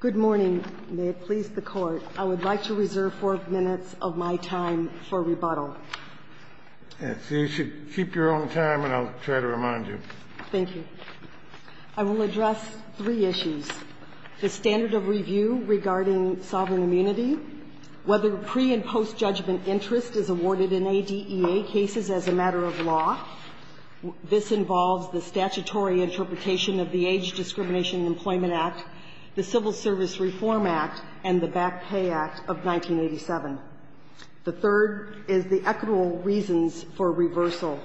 Good morning. May it please the Court. I would like to reserve four minutes of my time for rebuttal. You should keep your own time, and I'll try to remind you. Thank you. I will address three issues. The standard of review regarding sovereign immunity, whether pre- and post-judgment interest is awarded in ADEA cases as a matter of law. This involves the statutory interpretation of the Age Discrimination and Employment Act, the Civil Service Reform Act, and the Back Pay Act of 1987. The third is the equitable reasons for reversal.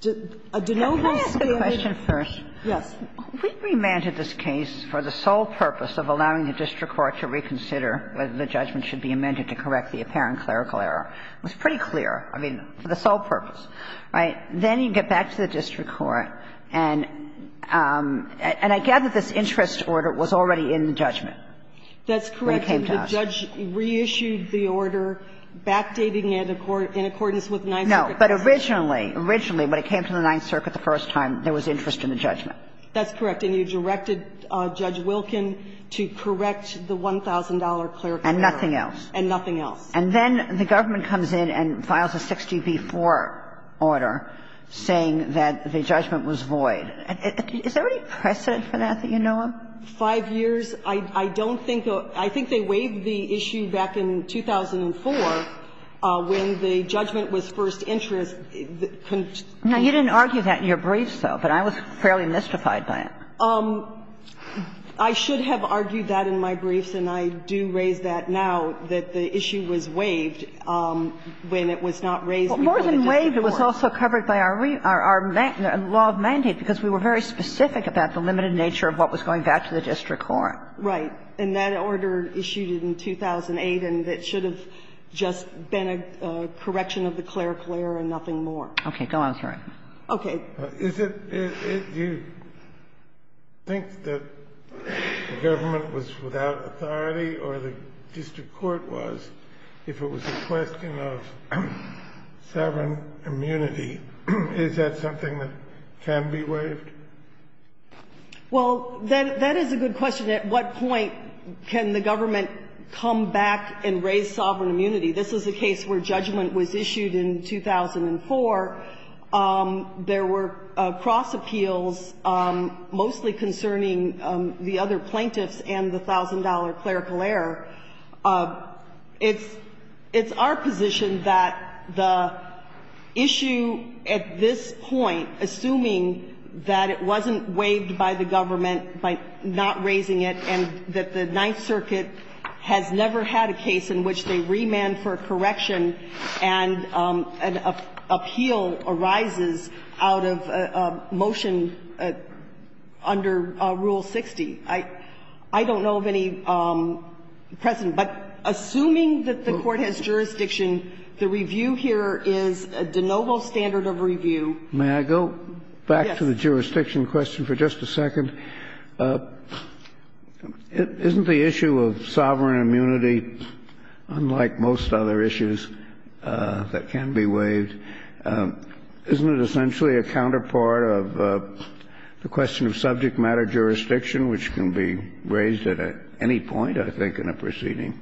Do no ones say that they need to be reversed? Can I ask a question first? Yes. We remanded this case for the sole purpose of allowing the district court to reconsider whether the judgment should be amended to correct the apparent clerical error. It was pretty clear, I mean, for the sole purpose, right? Then you get back to the district court, and I gather this interest order was already in the judgment when it came to us. That's correct. The judge reissued the order, backdating it in accordance with Ninth Circuit. No. But originally, originally, when it came to the Ninth Circuit the first time, there was interest in the judgment. That's correct. And you directed Judge Wilkin to correct the $1,000 clerical error. And nothing else. And nothing else. And then the government comes in and files a 60 v. 4 order saying that the judgment was void. Is there any precedent for that that you know of? Five years? I don't think the – I think they waived the issue back in 2004 when the judgment was first interest. Now, you didn't argue that in your briefs, though, but I was fairly mystified by it. I should have argued that in my briefs, and I do raise that now, that the issue was waived when it was not raised before the district court. Well, more than waived, it was also covered by our law of mandate, because we were very specific about the limited nature of what was going back to the district court. Right. And that order issued it in 2008, and it should have just been a correction of the clerical error and nothing more. Okay. Go on, sir. Okay. Is it – do you think that the government was without authority or the district court was, if it was a question of sovereign immunity, is that something that can be waived? Well, that is a good question. At what point can the government come back and raise sovereign immunity? This is a case where judgment was issued in 2004. There were cross appeals mostly concerning the other plaintiffs and the thousand-dollar clerical error. It's our position that the issue at this point, assuming that it wasn't waived by the government by not raising it and that the Ninth Circuit has never had a case in which they remand for a correction and an appeal arises out of a motion under Rule 60. I don't know of any precedent. But assuming that the Court has jurisdiction, the review here is a de novo standard of review. May I go back to the jurisdiction question for just a second? Isn't the issue of sovereign immunity, unlike most other issues that can be waived, isn't it essentially a counterpart of the question of subject matter jurisdiction, which can be raised at any point, I think, in a proceeding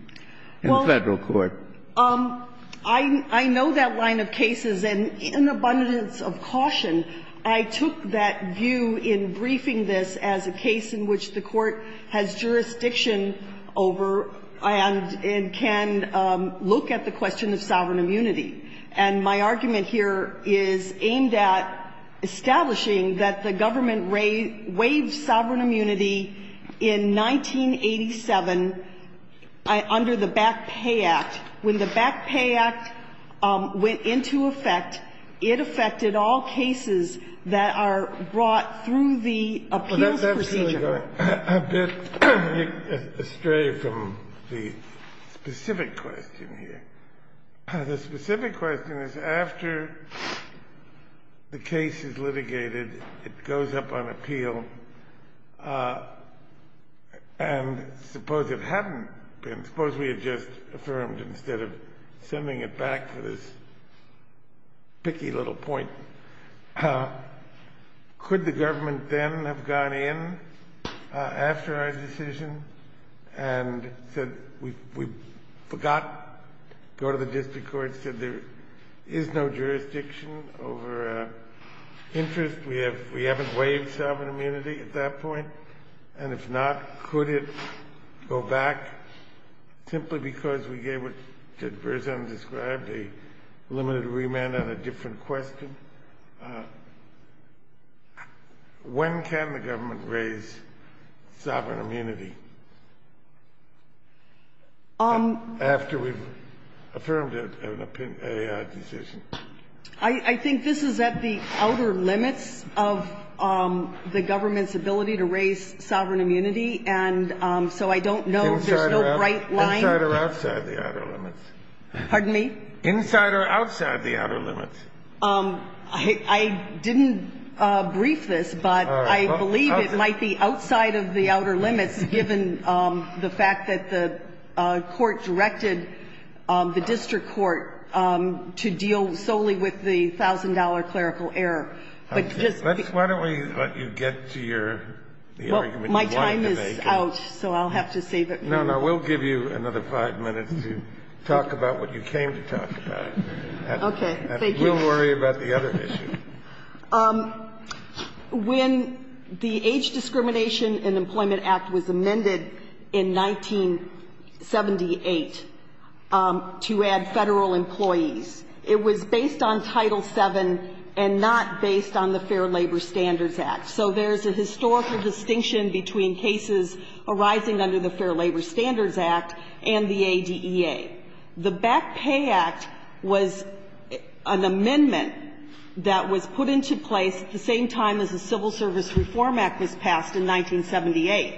in the Federal Court? Well, I know that line of cases. And in abundance of caution, I took that view in briefing this as a case in which the Court has jurisdiction over and can look at the question of sovereign immunity. And my argument here is aimed at establishing that the government waived sovereign immunity in 1987 under the Back Pay Act. When the Back Pay Act went into effect, it affected all cases that are brought through the appeals procedure. I'm going a bit astray from the specific question here. The specific question is, after the case is litigated, it goes up on appeal, and suppose it hadn't been. Suppose we had just affirmed, instead of sending it back to this picky little point, could the government then have gone in after our decision and said, we forgot, go to the district court, said there is no jurisdiction over interest. We haven't waived sovereign immunity at that point. And if not, could it go back, simply because we gave what Burzum described, a limited remand on a different question? When can the government raise sovereign immunity? After we've affirmed an opinion, a decision. I think this is at the outer limits of the government's ability to raise sovereign immunity. And so I don't know if there's no bright line. Outside or inside the outer limits. Pardon me? Inside or outside the outer limits. I didn't brief this, but I believe it might be outside of the outer limits, given the fact that the court directed the district court to deal solely with the $1,000 clerical error. But just because why don't we let you get to your argument you wanted to make. Well, my time is out, so I'll have to save it for you. No, no, we'll give you another 5 minutes to talk about what you came to talk about. Okay. Thank you. And we'll worry about the other issue. When the Age Discrimination in Employment Act was amended in 1978 to add Federal employees, it was based on Title VII and not based on the Fair Labor Standards Act. So there's a historical distinction between cases arising under the Fair Labor Standards Act and the ADEA. The Back Pay Act was an amendment that was put into place at the same time as the Civil Service Reform Act was passed in 1978.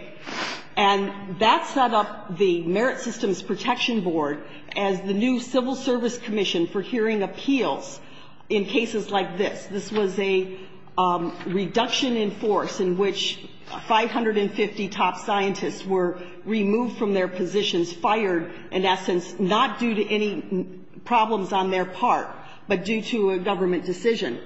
And that set up the Merit Systems Protection Board as the new civil service commission for hearing appeals in cases like this. This was a reduction in force in which 550 top scientists were removed from their positions, fired, in essence, not due to any problems on their part, but due to a government decision.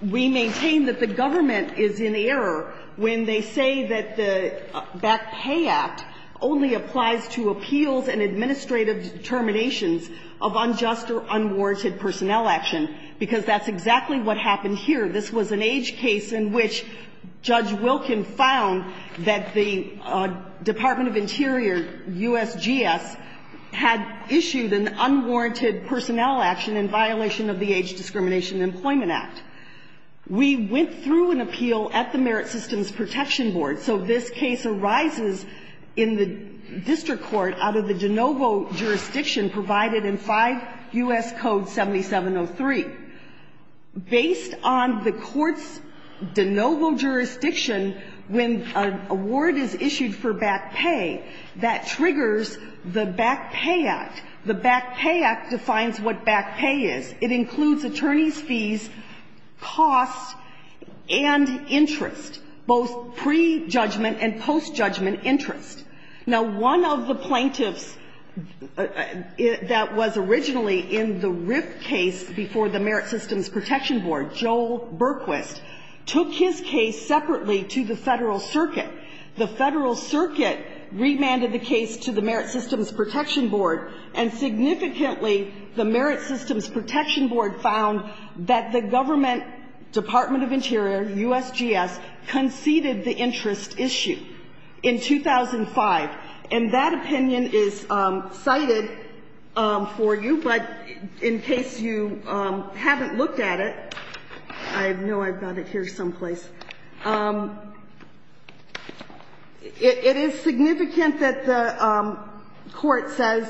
We maintain that the government is in error when they say that the Back Pay Act only applies to appeals and administrative determinations of unjust or unwarranted personnel action, because that's exactly what happened here. This was an age case in which Judge Wilkin found that the Department of Interior, USGS, had issued an unwarranted personnel action in violation of the Age Discrimination in Employment Act. We went through an appeal at the Merit Systems Protection Board. So this case arises in the district court out of the de novo jurisdiction provided in 5 U.S. Code 7703. Based on the court's de novo jurisdiction, when an award is issued for back pay, that triggers the Back Pay Act. The Back Pay Act defines what back pay is. It includes attorneys' fees, costs, and interest, both pre-judgment and post-judgment interest. Now, one of the plaintiffs that was originally in the RIPP case before the Merit Systems Protection Board, Joel Berquist, took his case separately to the Federal Circuit. The Federal Circuit remanded the case to the Merit Systems Protection Board, and significantly, the Merit Systems Protection Board found that the government Department of Interior, USGS, conceded the interest issue. In 2005, and that opinion is cited for you, but in case you haven't looked at it, I know I've got it here someplace, it is significant that the court says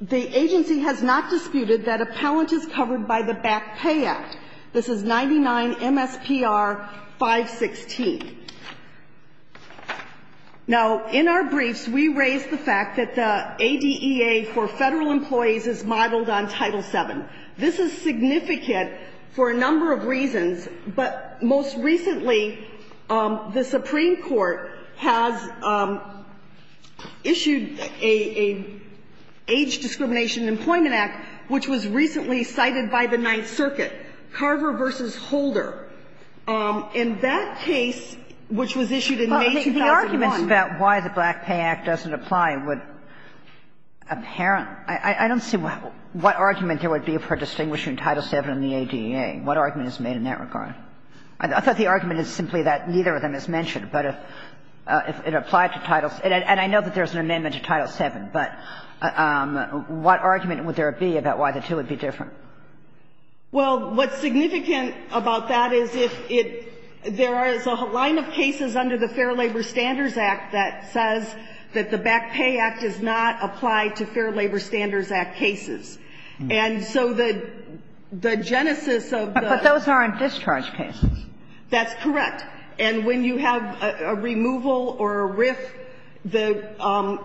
the agency has not disputed that appellant is covered by the Back Pay Act. This is 99 MSPR 516. Now, in our briefs, we raise the fact that the ADEA for Federal employees is modeled on Title VII. This is significant for a number of reasons, but most recently, the Supreme Court has issued an Age Discrimination Employment Act, which was recently cited by the Ninth Circuit, Carver v. Holder. In that case, which was issued in May 2001. Kagan. Kagan. The arguments about why the Back Pay Act doesn't apply would, apparent – I don't see what argument there would be for distinguishing Title VII and the ADEA. What argument is made in that regard? I thought the argument is simply that neither of them is mentioned, but if it applied to Title – and I know that there's an amendment to Title VII, but what argument would there be about why the two would be different? Well, what's significant about that is if it – there is a line of cases under the Fair Labor Standards Act that says that the Back Pay Act does not apply to Fair Labor Standards Act cases. And so the genesis of the – But those aren't discharge cases. That's correct. And when you have a removal or a RIF, the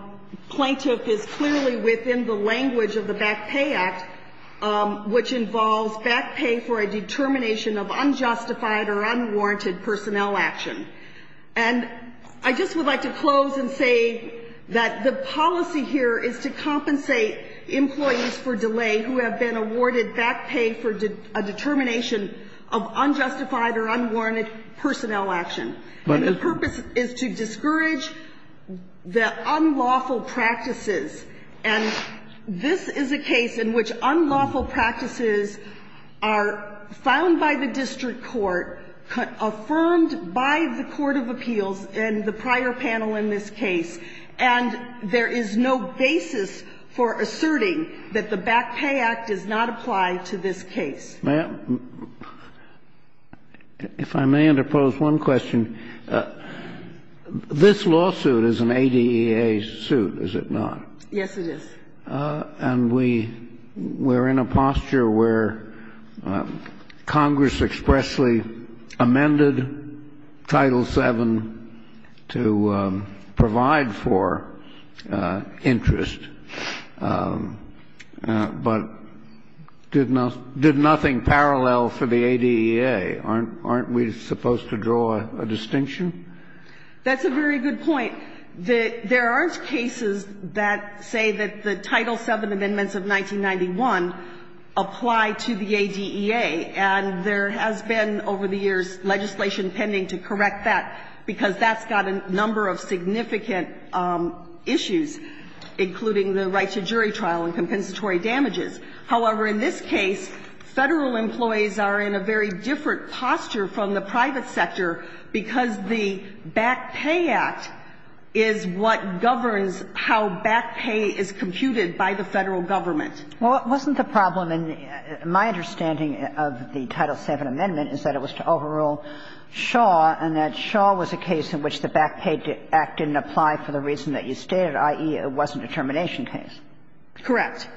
plaintiff is clearly within the language of the Back Pay Act, which involves back pay for a determination of unjustified or unwarranted personnel action. And I just would like to close and say that the policy here is to compensate employees for delay who have been awarded back pay for a determination of unjustified or unwarranted personnel action. But the purpose is to discourage the unlawful practices. And this is a case in which unlawful practices are found by the district court, affirmed by the court of appeals and the prior panel in this case, and there is no basis for asserting that the Back Pay Act does not apply to this case. May I – if I may interpose one question, this lawsuit is an ADEA suit, is it not? Yes, it is. And we're in a posture where Congress expressly amended Title VII to provide for interest, but did nothing parallel for the ADEA. Aren't we supposed to draw a distinction? That's a very good point. There aren't cases that say that the Title VII amendments of 1991 apply to the ADEA, and there has been over the years legislation pending to correct that because that's got a number of significant issues, including the right to jury trial and compensatory damages. However, in this case, Federal employees are in a very different posture from the private sector because the Back Pay Act is what governs how back pay is computed by the Federal government. Well, wasn't the problem in my understanding of the Title VII amendment is that it was to overrule Shaw, and that Shaw was a case in which the Back Pay Act didn't apply for the reason that you stated, i.e., it wasn't a termination case. Correct.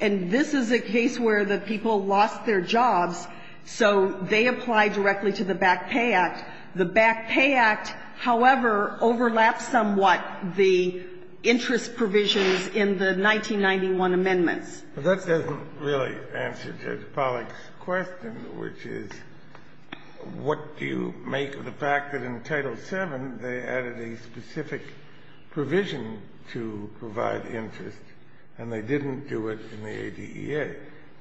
And this is a case where the people lost their jobs, so they apply directly to the Back Pay Act. The Back Pay Act, however, overlaps somewhat the interest provisions in the 1991 amendments. But that doesn't really answer Judge Pollack's question, which is what do you make of the fact that in Title VII they added a specific provision to provide interest and they didn't do it in the ADEA?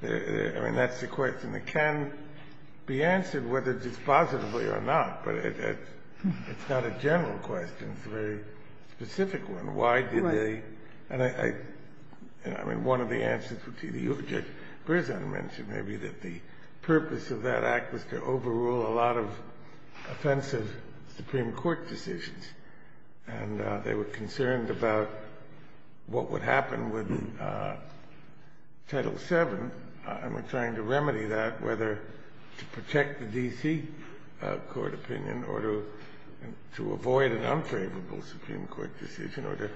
I mean, that's the question that can be answered whether it's positively or not, but it's not a general question. It's a very specific one. Why did they? And I mean, one of the answers would be the objective. Judge Berzin mentioned maybe that the purpose of that act was to overrule a lot of offensive Supreme Court decisions, and they were concerned about what would happen with Title VII, and were trying to remedy that, whether to protect the D.C. court opinion or to avoid an unfavorable Supreme Court decision or to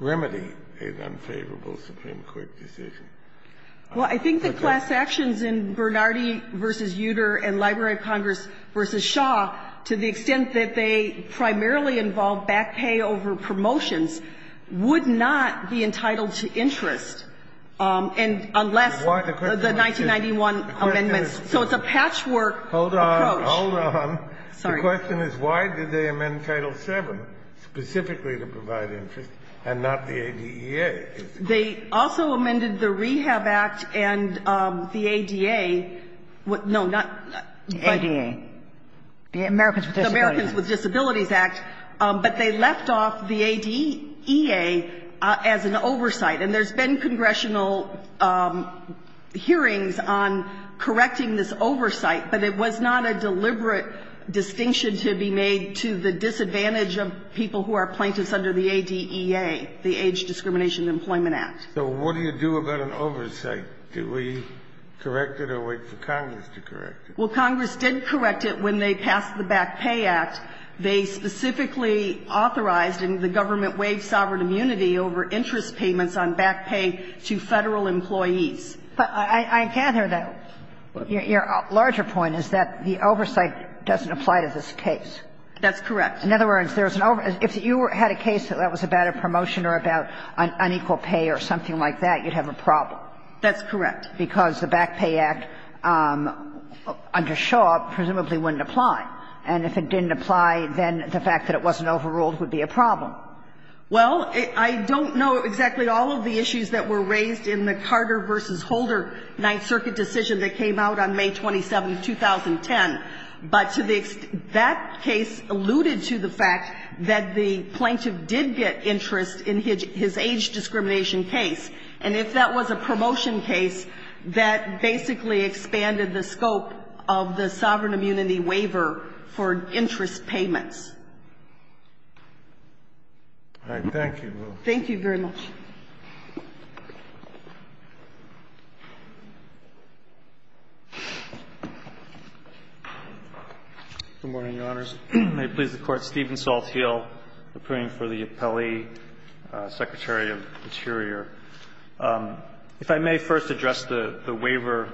remedy an unfavorable Supreme Court decision. Well, I think the class actions in Bernardi v. Uter and Library of Congress v. Shaw, to the extent that they primarily involve back pay over promotions, would not be entitled to interest, and unless the 1991 amendments, so it's a patchwork approach. The question is, why did they amend Title VII specifically to provide interest and not the ADEA? They also amended the Rehab Act and the ADA. No, not the ADA. The Americans with Disabilities Act. But they left off the ADEA as an oversight, and there's been congressional hearings on correcting this oversight, but it was not a deliberate distinction to be made to the disadvantage of people who are plaintiffs under the ADEA, the Age Discrimination Employment Act. So what do you do about an oversight? Do we correct it or wait for Congress to correct it? Well, Congress did correct it when they passed the Back Pay Act. They specifically authorized, and the government waived sovereign immunity over interest payments on back pay to Federal employees. But I gather, though, your larger point is that the oversight doesn't apply to this case. That's correct. In other words, there's an over – if you had a case that was about a promotion or about unequal pay or something like that, you'd have a problem. That's correct. Because the Back Pay Act, under Shaw, presumably wouldn't apply. And if it didn't apply, then the fact that it wasn't overruled would be a problem. Well, I don't know exactly all of the issues that were raised in the Carter v. Holder Ninth Circuit decision that came out on May 27th, 2010. But to the extent – that case alluded to the fact that the plaintiff did get interest in his age discrimination case. And if that was a promotion case, that basically expanded the scope of the sovereign immunity waiver for interest payments. All right. Thank you, Lou. Thank you very much. May it please the Court. Thank you, Mr. Chief Justice. I'm Steven Saltheel, appearing for the appellee, Secretary of the Interior. If I may first address the waiver,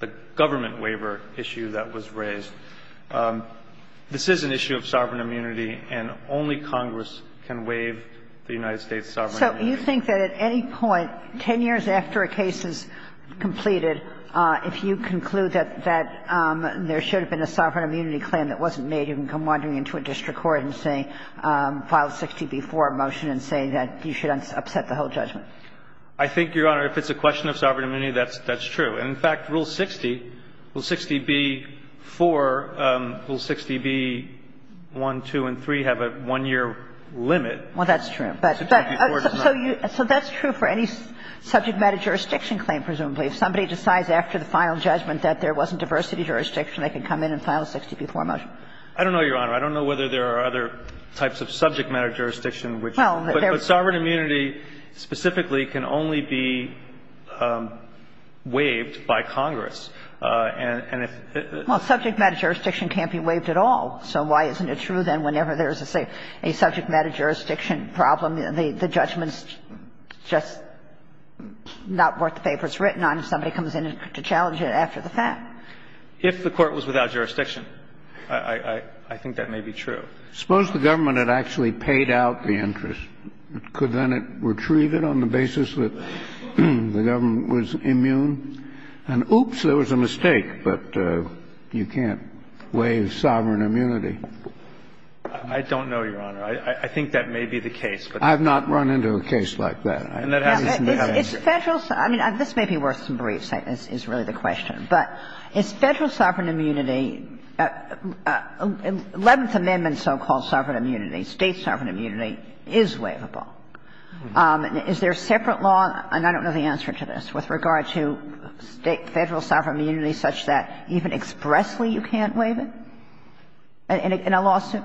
the government waiver issue that was raised. This is an issue of sovereign immunity, and only Congress can waive the United States' sovereign immunity. So you think that at any point, 10 years after a case is completed, if you conclude that there should have been a sovereign immunity claim that wasn't made, you can come wandering into a district court and say, file 60B-4 motion and say that you should upset the whole judgment? I think, Your Honor, if it's a question of sovereign immunity, that's true. And, in fact, Rule 60, Rule 60B-4, Rule 60B-1, 2, and 3 have a one-year limit. Well, that's true, but you – so that's true for any subject matter jurisdiction claim, presumably. If somebody decides after the final judgment that there wasn't diversity jurisdiction, they can come in and file a 60B-4 motion. I don't know, Your Honor. I don't know whether there are other types of subject matter jurisdiction which – Well, there – But sovereign immunity specifically can only be waived by Congress. And if – Well, subject matter jurisdiction can't be waived at all. So why isn't it true then whenever there's a subject matter jurisdiction problem, the judgment's just not worth the favor it's written on, if somebody comes in to challenge it after the fact? If the court was without jurisdiction, I think that may be true. Suppose the government had actually paid out the interest. Could then it retrieve it on the basis that the government was immune? And, oops, there was a mistake, but you can't waive sovereign immunity. I don't know, Your Honor. I think that may be the case. I've not run into a case like that. And that has to have a history. It's Federal – I mean, this may be worth some briefs, is really the question. But is Federal sovereign immunity – Eleventh Amendment so-called sovereign immunity, State sovereign immunity, is waivable. Is there a separate law – and I don't know the answer to this – with regard to State – Federal sovereign immunity such that even expressly you can't waive it in a lawsuit?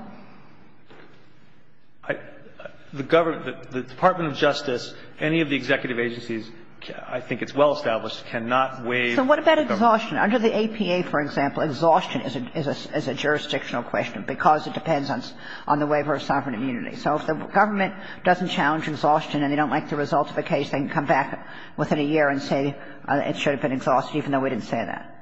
The Department of Justice, any of the executive agencies, I think it's well-established, cannot waive. So what about exhaustion? Under the APA, for example, exhaustion is a jurisdictional question because it depends on the waiver of sovereign immunity. So if the government doesn't challenge exhaustion and they don't like the result of a case, they can come back within a year and say it should have been exhausted, even though we didn't say that.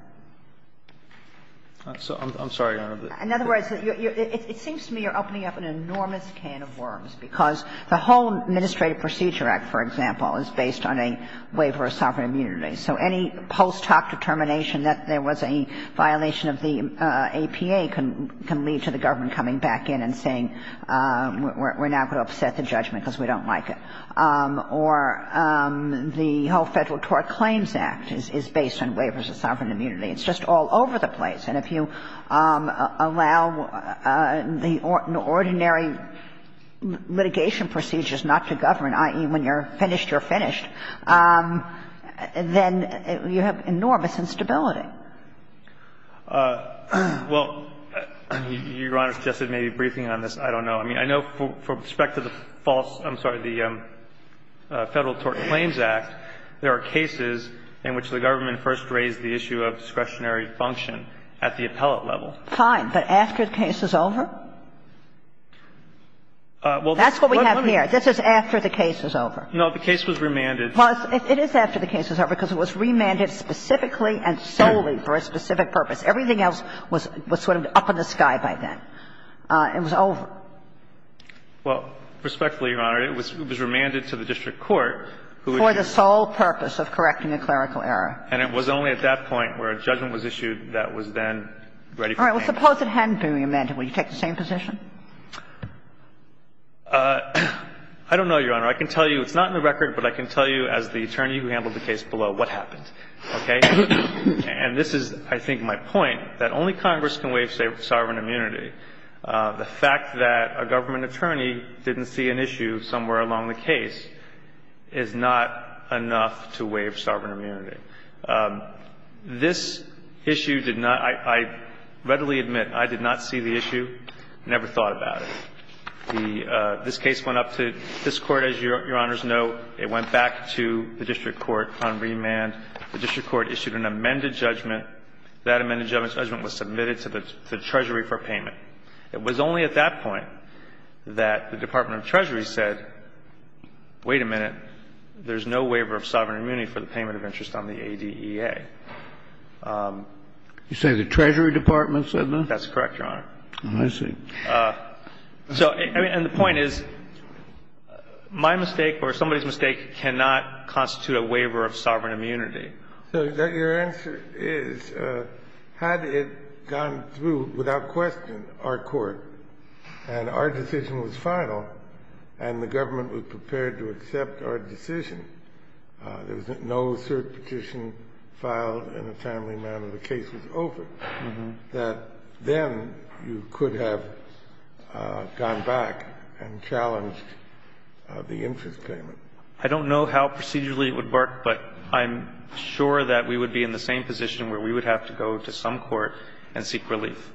I'm sorry, Your Honor. In other words, it seems to me you're opening up an enormous can of worms because the whole Administrative Procedure Act, for example, is based on a waiver of sovereign immunity. So any post hoc determination that there was a violation of the APA can lead to the government coming back in and saying we're now going to upset the judgment because we don't like it. Or the whole Federal Tort Claims Act is based on waivers of sovereign immunity. It's just all over the place. And if you allow the ordinary litigation procedures not to govern, i.e., when you're finished, you're finished, then you have enormous instability. Well, Your Honor suggested maybe briefing on this. I don't know. I mean, I know from respect to the false – I'm sorry, the Federal Tort Claims Act, there are cases in which the government first raised the issue of discretionary function at the appellate level. Fine. But after the case is over? Well, this is what we have here. This is after the case is over. No. The case was remanded. Well, it is after the case is over because it was remanded specifically and solely for a specific purpose. Everything else was sort of up in the sky by then. It was over. Well, respectfully, Your Honor, it was remanded to the district court, who was just For the sole purpose of correcting a clerical error. And it was only at that point where a judgment was issued that was then ready for action. All right. Well, suppose it hadn't been remanded. Would you take the same position? I don't know, Your Honor. I can tell you. It's not in the record, but I can tell you as the attorney who handled the case below what happened. Okay? And this is, I think, my point, that only Congress can waive, say, sovereign immunity. The fact that a government attorney didn't see an issue somewhere along the case is not enough to waive sovereign immunity. This issue did not – I readily admit I did not see the issue, never thought about it. The – this case went up to this Court, as Your Honor's know. It went back to the district court on remand. The district court issued an amended judgment. That amended judgment was submitted to the Treasury for payment. It was only at that point that the Department of Treasury said, wait a minute, there's no waiver of sovereign immunity for the payment of interest on the ADEA. You say the Treasury Department said that? That's correct, Your Honor. I see. So, I mean, and the point is, my mistake or somebody's mistake cannot constitute a waiver of sovereign immunity. So your answer is, had it gone through without question our Court and our decision was final and the government was prepared to accept our decision, there was no cert petition filed and a timely amount of the case was over, that then you could have gone back and challenged the interest payment? I don't know how procedurally it would work, but I'm sure that we would be in the same position where we would have to go to some court and seek relief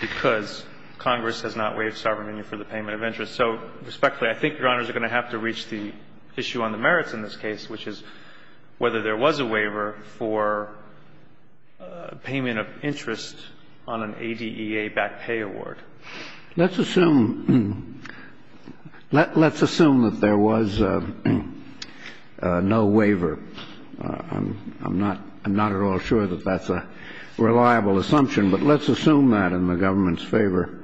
because Congress has not waived sovereign immunity for the payment of interest. So, respectfully, I think Your Honors are going to have to reach the issue on the merits in this case, which is whether there was a waiver for payment of interest on an ADEA-backed pay award. Let's assume that there was no waiver. I'm not at all sure that that's a reliable assumption, but let's assume that in the government's favor.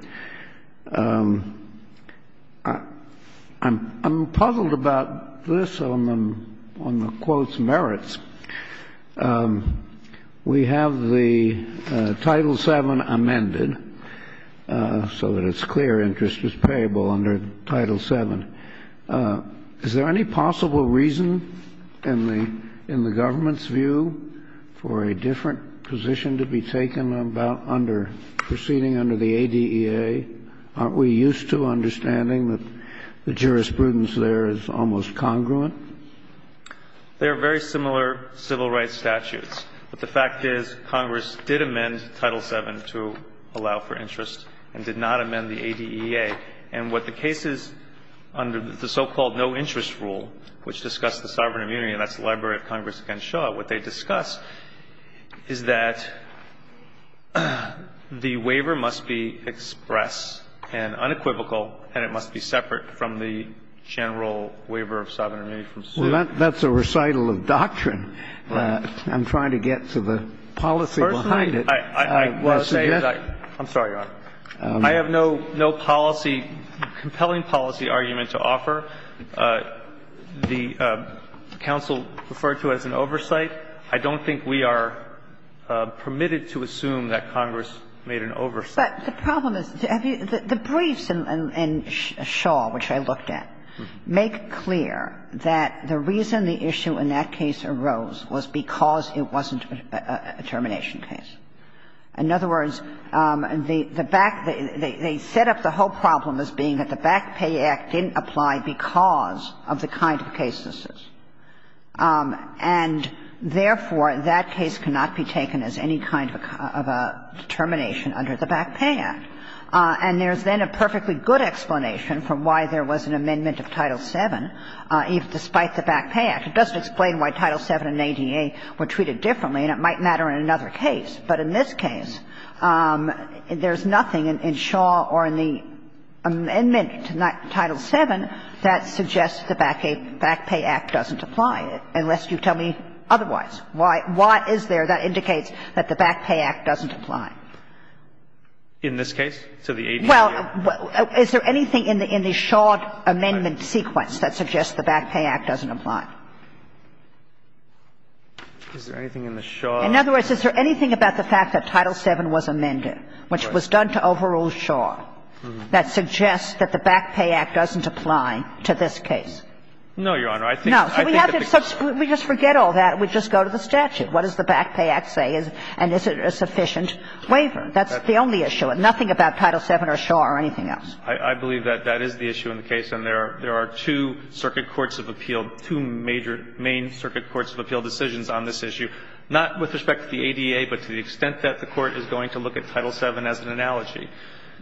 I'm puzzled about this on the quote's merits. We have the Title VII amended so that it's clear interest is payable under Title VII. Is there any possible reason in the government's view for a different position to be taken about proceeding under the ADEA? Aren't we used to understanding that the jurisprudence there is almost congruent? There are very similar civil rights statutes, but the fact is Congress did amend Title VII to allow for interest and did not amend the ADEA. And what the cases under the so-called no-interest rule, which discussed the sovereign immunity, and that's the library of Congress against Shaw, what they discuss is that the waiver must be express and unequivocal, and it must be separate from the general waiver of sovereign immunity from suit. Kennedy, that's a recital of doctrine. I'm trying to get to the policy behind it. First of all, I want to say that I'm sorry, Your Honor. I have no policy, compelling policy argument to offer. The counsel referred to as an oversight. I don't think we are permitted to assume that Congress made an oversight. But the problem is, the briefs in Shaw, which I looked at, make clear that the reason the issue in that case arose was because it wasn't a termination case. In other words, the back they set up the whole problem as being that the Back Pay Act didn't apply because of the kind of case this is. And therefore, that case cannot be taken as any kind of a termination under the Back Pay Act. And there's then a perfectly good explanation for why there was an amendment of Title VII, even despite the Back Pay Act. It doesn't explain why Title VII and ADA were treated differently, and it might matter in another case, but in this case, there's nothing in Shaw or in the amendment to Title VII that suggests the Back Pay Act doesn't apply, unless you tell me otherwise. Why is there that indicates that the Back Pay Act doesn't apply? In this case, so the ADA? Well, is there anything in the Shaw amendment sequence that suggests the Back Pay Act doesn't apply? Is there anything in the Shaw? In other words, is there anything about the fact that Title VII was amended, which was done to overrule Shaw, that suggests that the Back Pay Act doesn't apply to this case? No, Your Honor. I think that the case is clear. No. We just forget all that. We just go to the statute. What does the Back Pay Act say? And is it a sufficient waiver? That's the only issue. Nothing about Title VII or Shaw or anything else. I believe that that is the issue in the case, and there are two circuit courts of appeal, two major main circuit courts of appeal decisions on this issue, not with respect to the ADA, but to the extent that the Court is going to look at Title VII as an analogy.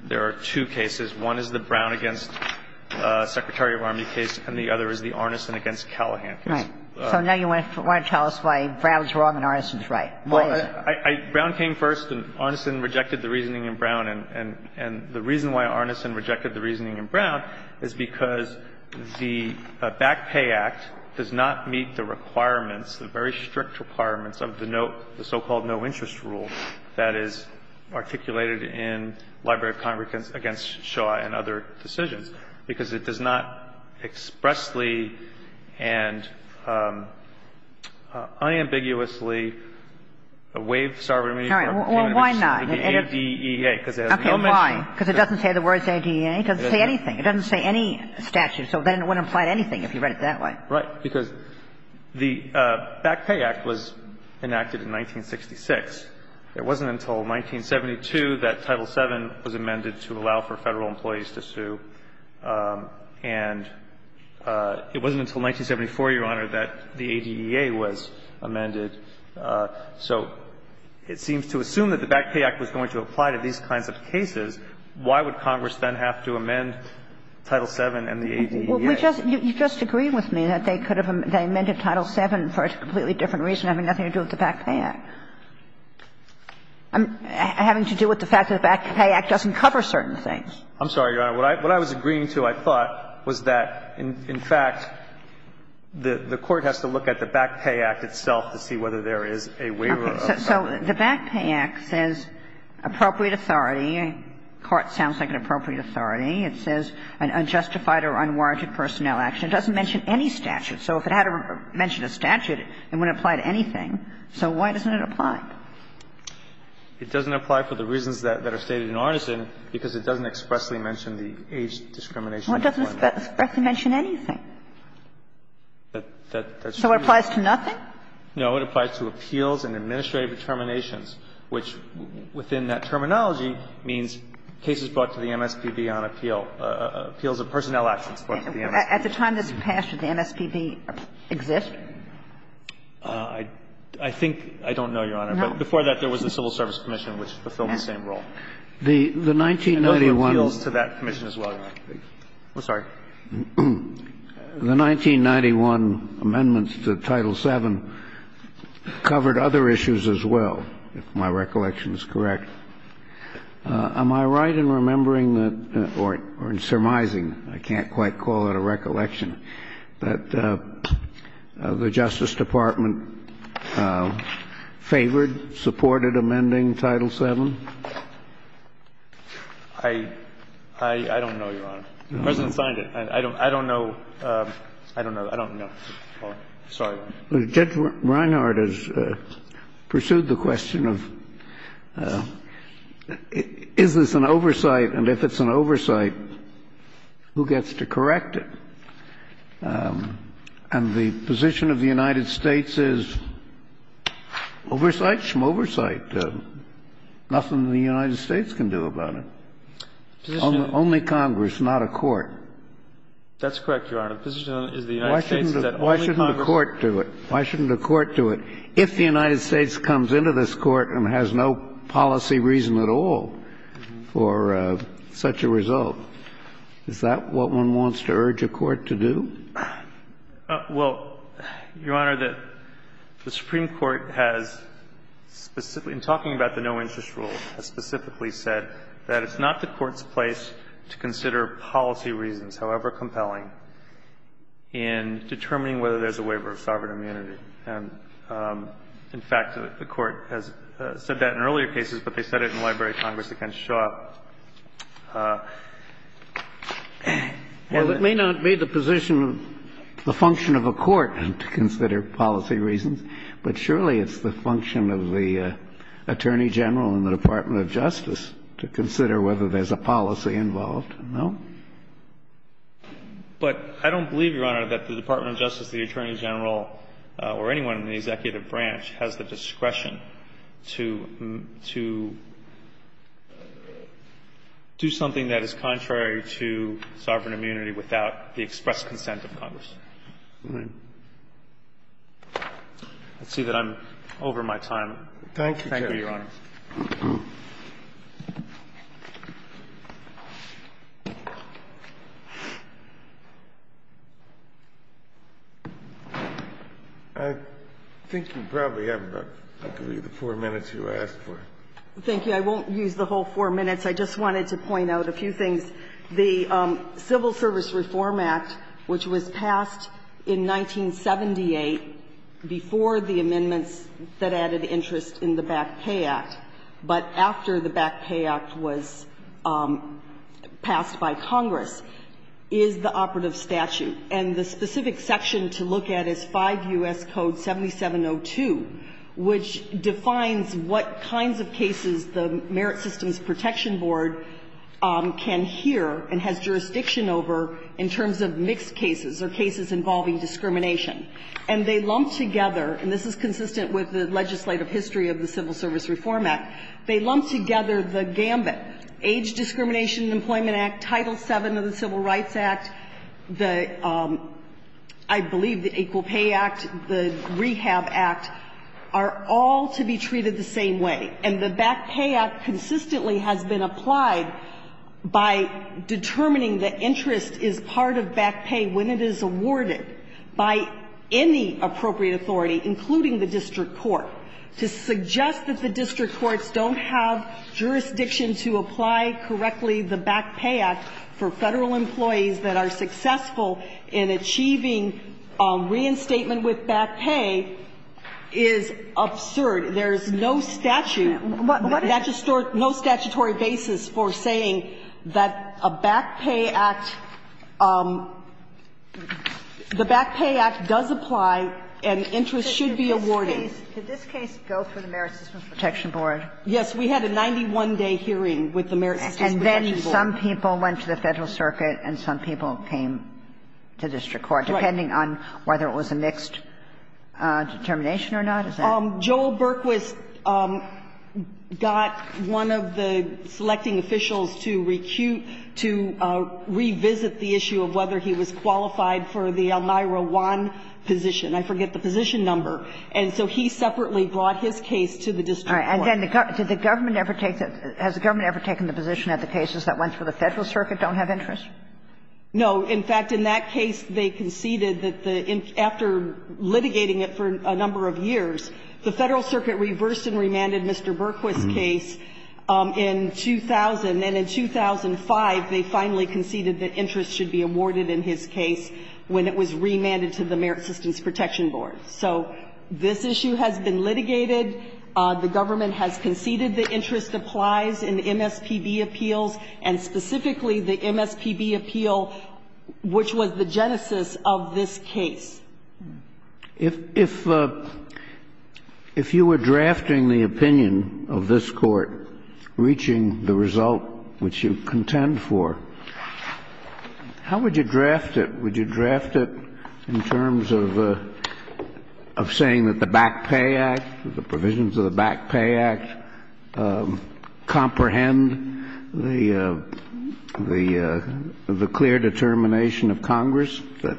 There are two cases. One is the Brown v. Secretary of Army case, and the other is the Arneson v. Callahan case. Right. So now you want to tell us why Brown is wrong and Arneson is right. Go ahead. Well, Brown came first, and Arneson rejected the reasoning in Brown. And the reason why Arneson rejected the reasoning in Brown is because the Back Pay Act does not meet the requirements, the very strict requirements, of the so-called no-interest rule that is articulated in Library of Congress against Shaw and other decisions, because it does not expressly and unambiguously waive sovereign immunity for human beings. All right. Well, why not? The ADEA, because it has no mention of it. Okay. Why? Because it doesn't say the words ADEA. It doesn't say anything. It doesn't say any statute. So then it wouldn't apply to anything, if you read it that way. Right. Because the Back Pay Act was enacted in 1966. It wasn't until 1972 that Title VII was amended to allow for Federal employees to sue, and it wasn't until 1974, Your Honor, that the ADEA was amended. So it seems to assume that the Back Pay Act was going to apply to these kinds of cases. Why would Congress then have to amend Title VII and the ADEA? Well, we just – you just agree with me that they could have – they amended Title VII for a completely different reason, having nothing to do with the Back Pay Act. Having to do with the fact that the Back Pay Act doesn't cover certain things. I'm sorry, Your Honor. What I was agreeing to, I thought, was that, in fact, the Court has to look at the Back Pay Act itself to see whether there is a waiver of sovereign immunity. So the Back Pay Act says appropriate authority, and court sounds like an appropriate authority. It says an unjustified or unwarranted personnel action. It doesn't mention any statute. So if it had to mention a statute, it wouldn't apply to anything. So why doesn't it apply? It doesn't apply for the reasons that are stated in Arneson, because it doesn't expressly mention the age discrimination. Well, it doesn't expressly mention anything. That's true. So it applies to nothing? No, it applies to appeals and administrative determinations, which, within that terminology, means cases brought to the MSPB on appeal, appeals of personnel actions brought to the MSPB. At the time that's passed, did the MSPB exist? I think – I don't know, Your Honor. No. But before that, there was the Civil Service Commission, which fulfilled the same role. The 1991 – And other appeals to that commission as well, Your Honor. I'm sorry. The 1991 amendments to Title VII covered other issues as well, if my recollection is correct. Am I right in remembering that – or in surmising, I can't quite call it a recollection – that the Justice Department favored, supported amending Title VII? I don't know, Your Honor. The President signed it. I don't know. I don't know. I don't know. Sorry. Judge Reinhardt has pursued the question of is this an oversight, and if it's an oversight, who gets to correct it? And the position of the United States is, oversight, schmoversight. Nothing the United States can do about it. Only Congress, not a court. That's correct, Your Honor. The position of the United States is that only Congress – Why shouldn't a court do it? Why shouldn't a court do it? If the United States comes into this Court and has no policy reason at all for such a result, is that what one wants to urge a court to do? Well, Your Honor, the Supreme Court has specifically – in talking about the no-interest rule – has specifically said that it's not the Court's place to consider policy reasons, however compelling, in determining whether there's a waiver of sovereign immunity. And, in fact, the Court has said that in earlier cases, but they said it in the Library of Congress against Shaw. Well, it may not be the position of – the function of a court to consider policy reasons, but surely it's the function of the Attorney General and the Department of Justice to consider whether there's a policy involved. No? But I don't believe, Your Honor, that the Department of Justice, the Attorney General, or anyone in the executive branch has the discretion to do something that is contrary to sovereign immunity without the express consent of Congress. Let's see that I'm over my time. Thank you, Your Honor. I think you probably have about the four minutes you asked for. Thank you. I won't use the whole four minutes. I just wanted to point out a few things. The Civil Service Reform Act, which was passed in 1978 before the amendments that added interest in the Back Pay Act, but after the Back Pay Act was passed by Congress, is the operative statute. And the specific section to look at is 5 U.S. Code 7702, which defines what kinds of cases the Merit Systems Protection Board can hear and has jurisdiction over in terms of mixed cases or cases involving discrimination. And they lump together, and this is consistent with the legislative history of the Civil Service Reform Act, they lump together the gambit, Age Discrimination and Employment Act, Title VII of the Civil Rights Act, the, I believe, the Equal Pay Act, the Rehab Act, are all to be treated the same way. And the Back Pay Act consistently has been applied by determining that interest is part of back pay when it is awarded by any appropriate authority, including the district court. To suggest that the district courts don't have jurisdiction to apply correctly the Back Pay Act for Federal employees that are successful in achieving reinstatement with back pay is absurd. There's no statute, no statutory basis for saying that a Back Pay Act, the Back Pay Act does apply and interest should be awarded. Kagan, did this case go through the Merit Systems Protection Board? Yes. We had a 91-day hearing with the Merit Systems Protection Board. And then some people went to the Federal Circuit and some people came to district court, depending on whether it was a mixed determination or not? Is that right? Well, Joel Berquist got one of the selecting officials to recue to revisit the issue of whether he was qualified for the Elmira I position. I forget the position number. And so he separately brought his case to the district court. All right. And then did the government ever take the – has the government ever taken the position that the cases that went through the Federal Circuit don't have interest? No. In fact, in that case, they conceded that the – after litigating it for a number of years, the Federal Circuit reversed and remanded Mr. Berquist's case in 2000. And in 2005, they finally conceded that interest should be awarded in his case when it was remanded to the Merit Systems Protection Board. So this issue has been litigated. The government has conceded the interest applies in MSPB appeals, and specifically the MSPB appeal, which was the genesis of this case. If you were drafting the opinion of this Court reaching the result which you contend for, how would you draft it? Would you draft it in terms of saying that the Back Pay Act, the provisions of the Back Pay Act, comprehend the clear determination of Congress that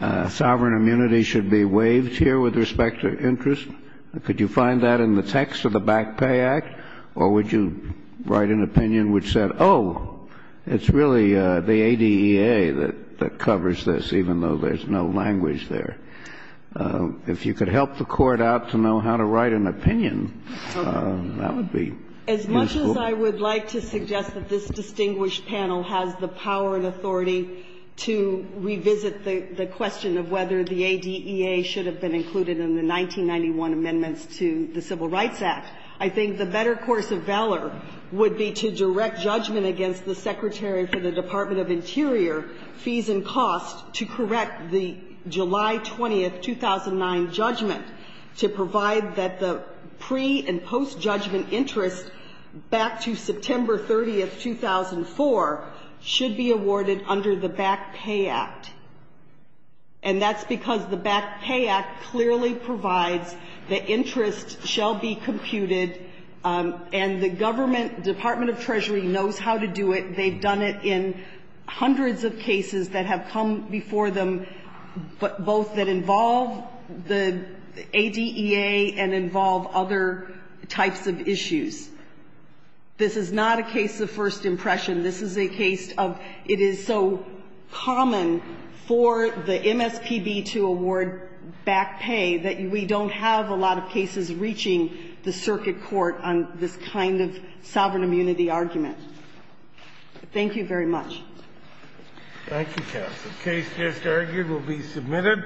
Sauerberg's case is not Would you say that sovereign immunity should be waived here with respect to interest? Could you find that in the text of the Back Pay Act, or would you write an opinion which said, oh, it's really the ADEA that covers this, even though there's no language there? If you could help the Court out to know how to write an opinion, that would be useful. I guess I would like to suggest that this distinguished panel has the power and authority to revisit the question of whether the ADEA should have been included in the 1991 amendments to the Civil Rights Act. I think the better course of valor would be to direct judgment against the Secretary for the Department of Interior, fees and costs, to correct the July 20, 2009, judgment to provide that the pre- and post-judgment interest back to September 30, 2004, should be awarded under the Back Pay Act. And that's because the Back Pay Act clearly provides that interest shall be computed, and the government, Department of Treasury, knows how to do it. They've done it in hundreds of cases that have come before them, both that involve the ADEA and involve other types of issues. This is not a case of first impression. This is a case of it is so common for the MSPB to award back pay that we don't have a lot of cases reaching the circuit court on this kind of sovereign immunity argument. Thank you very much. Thank you, counsel. The case just argued will be submitted.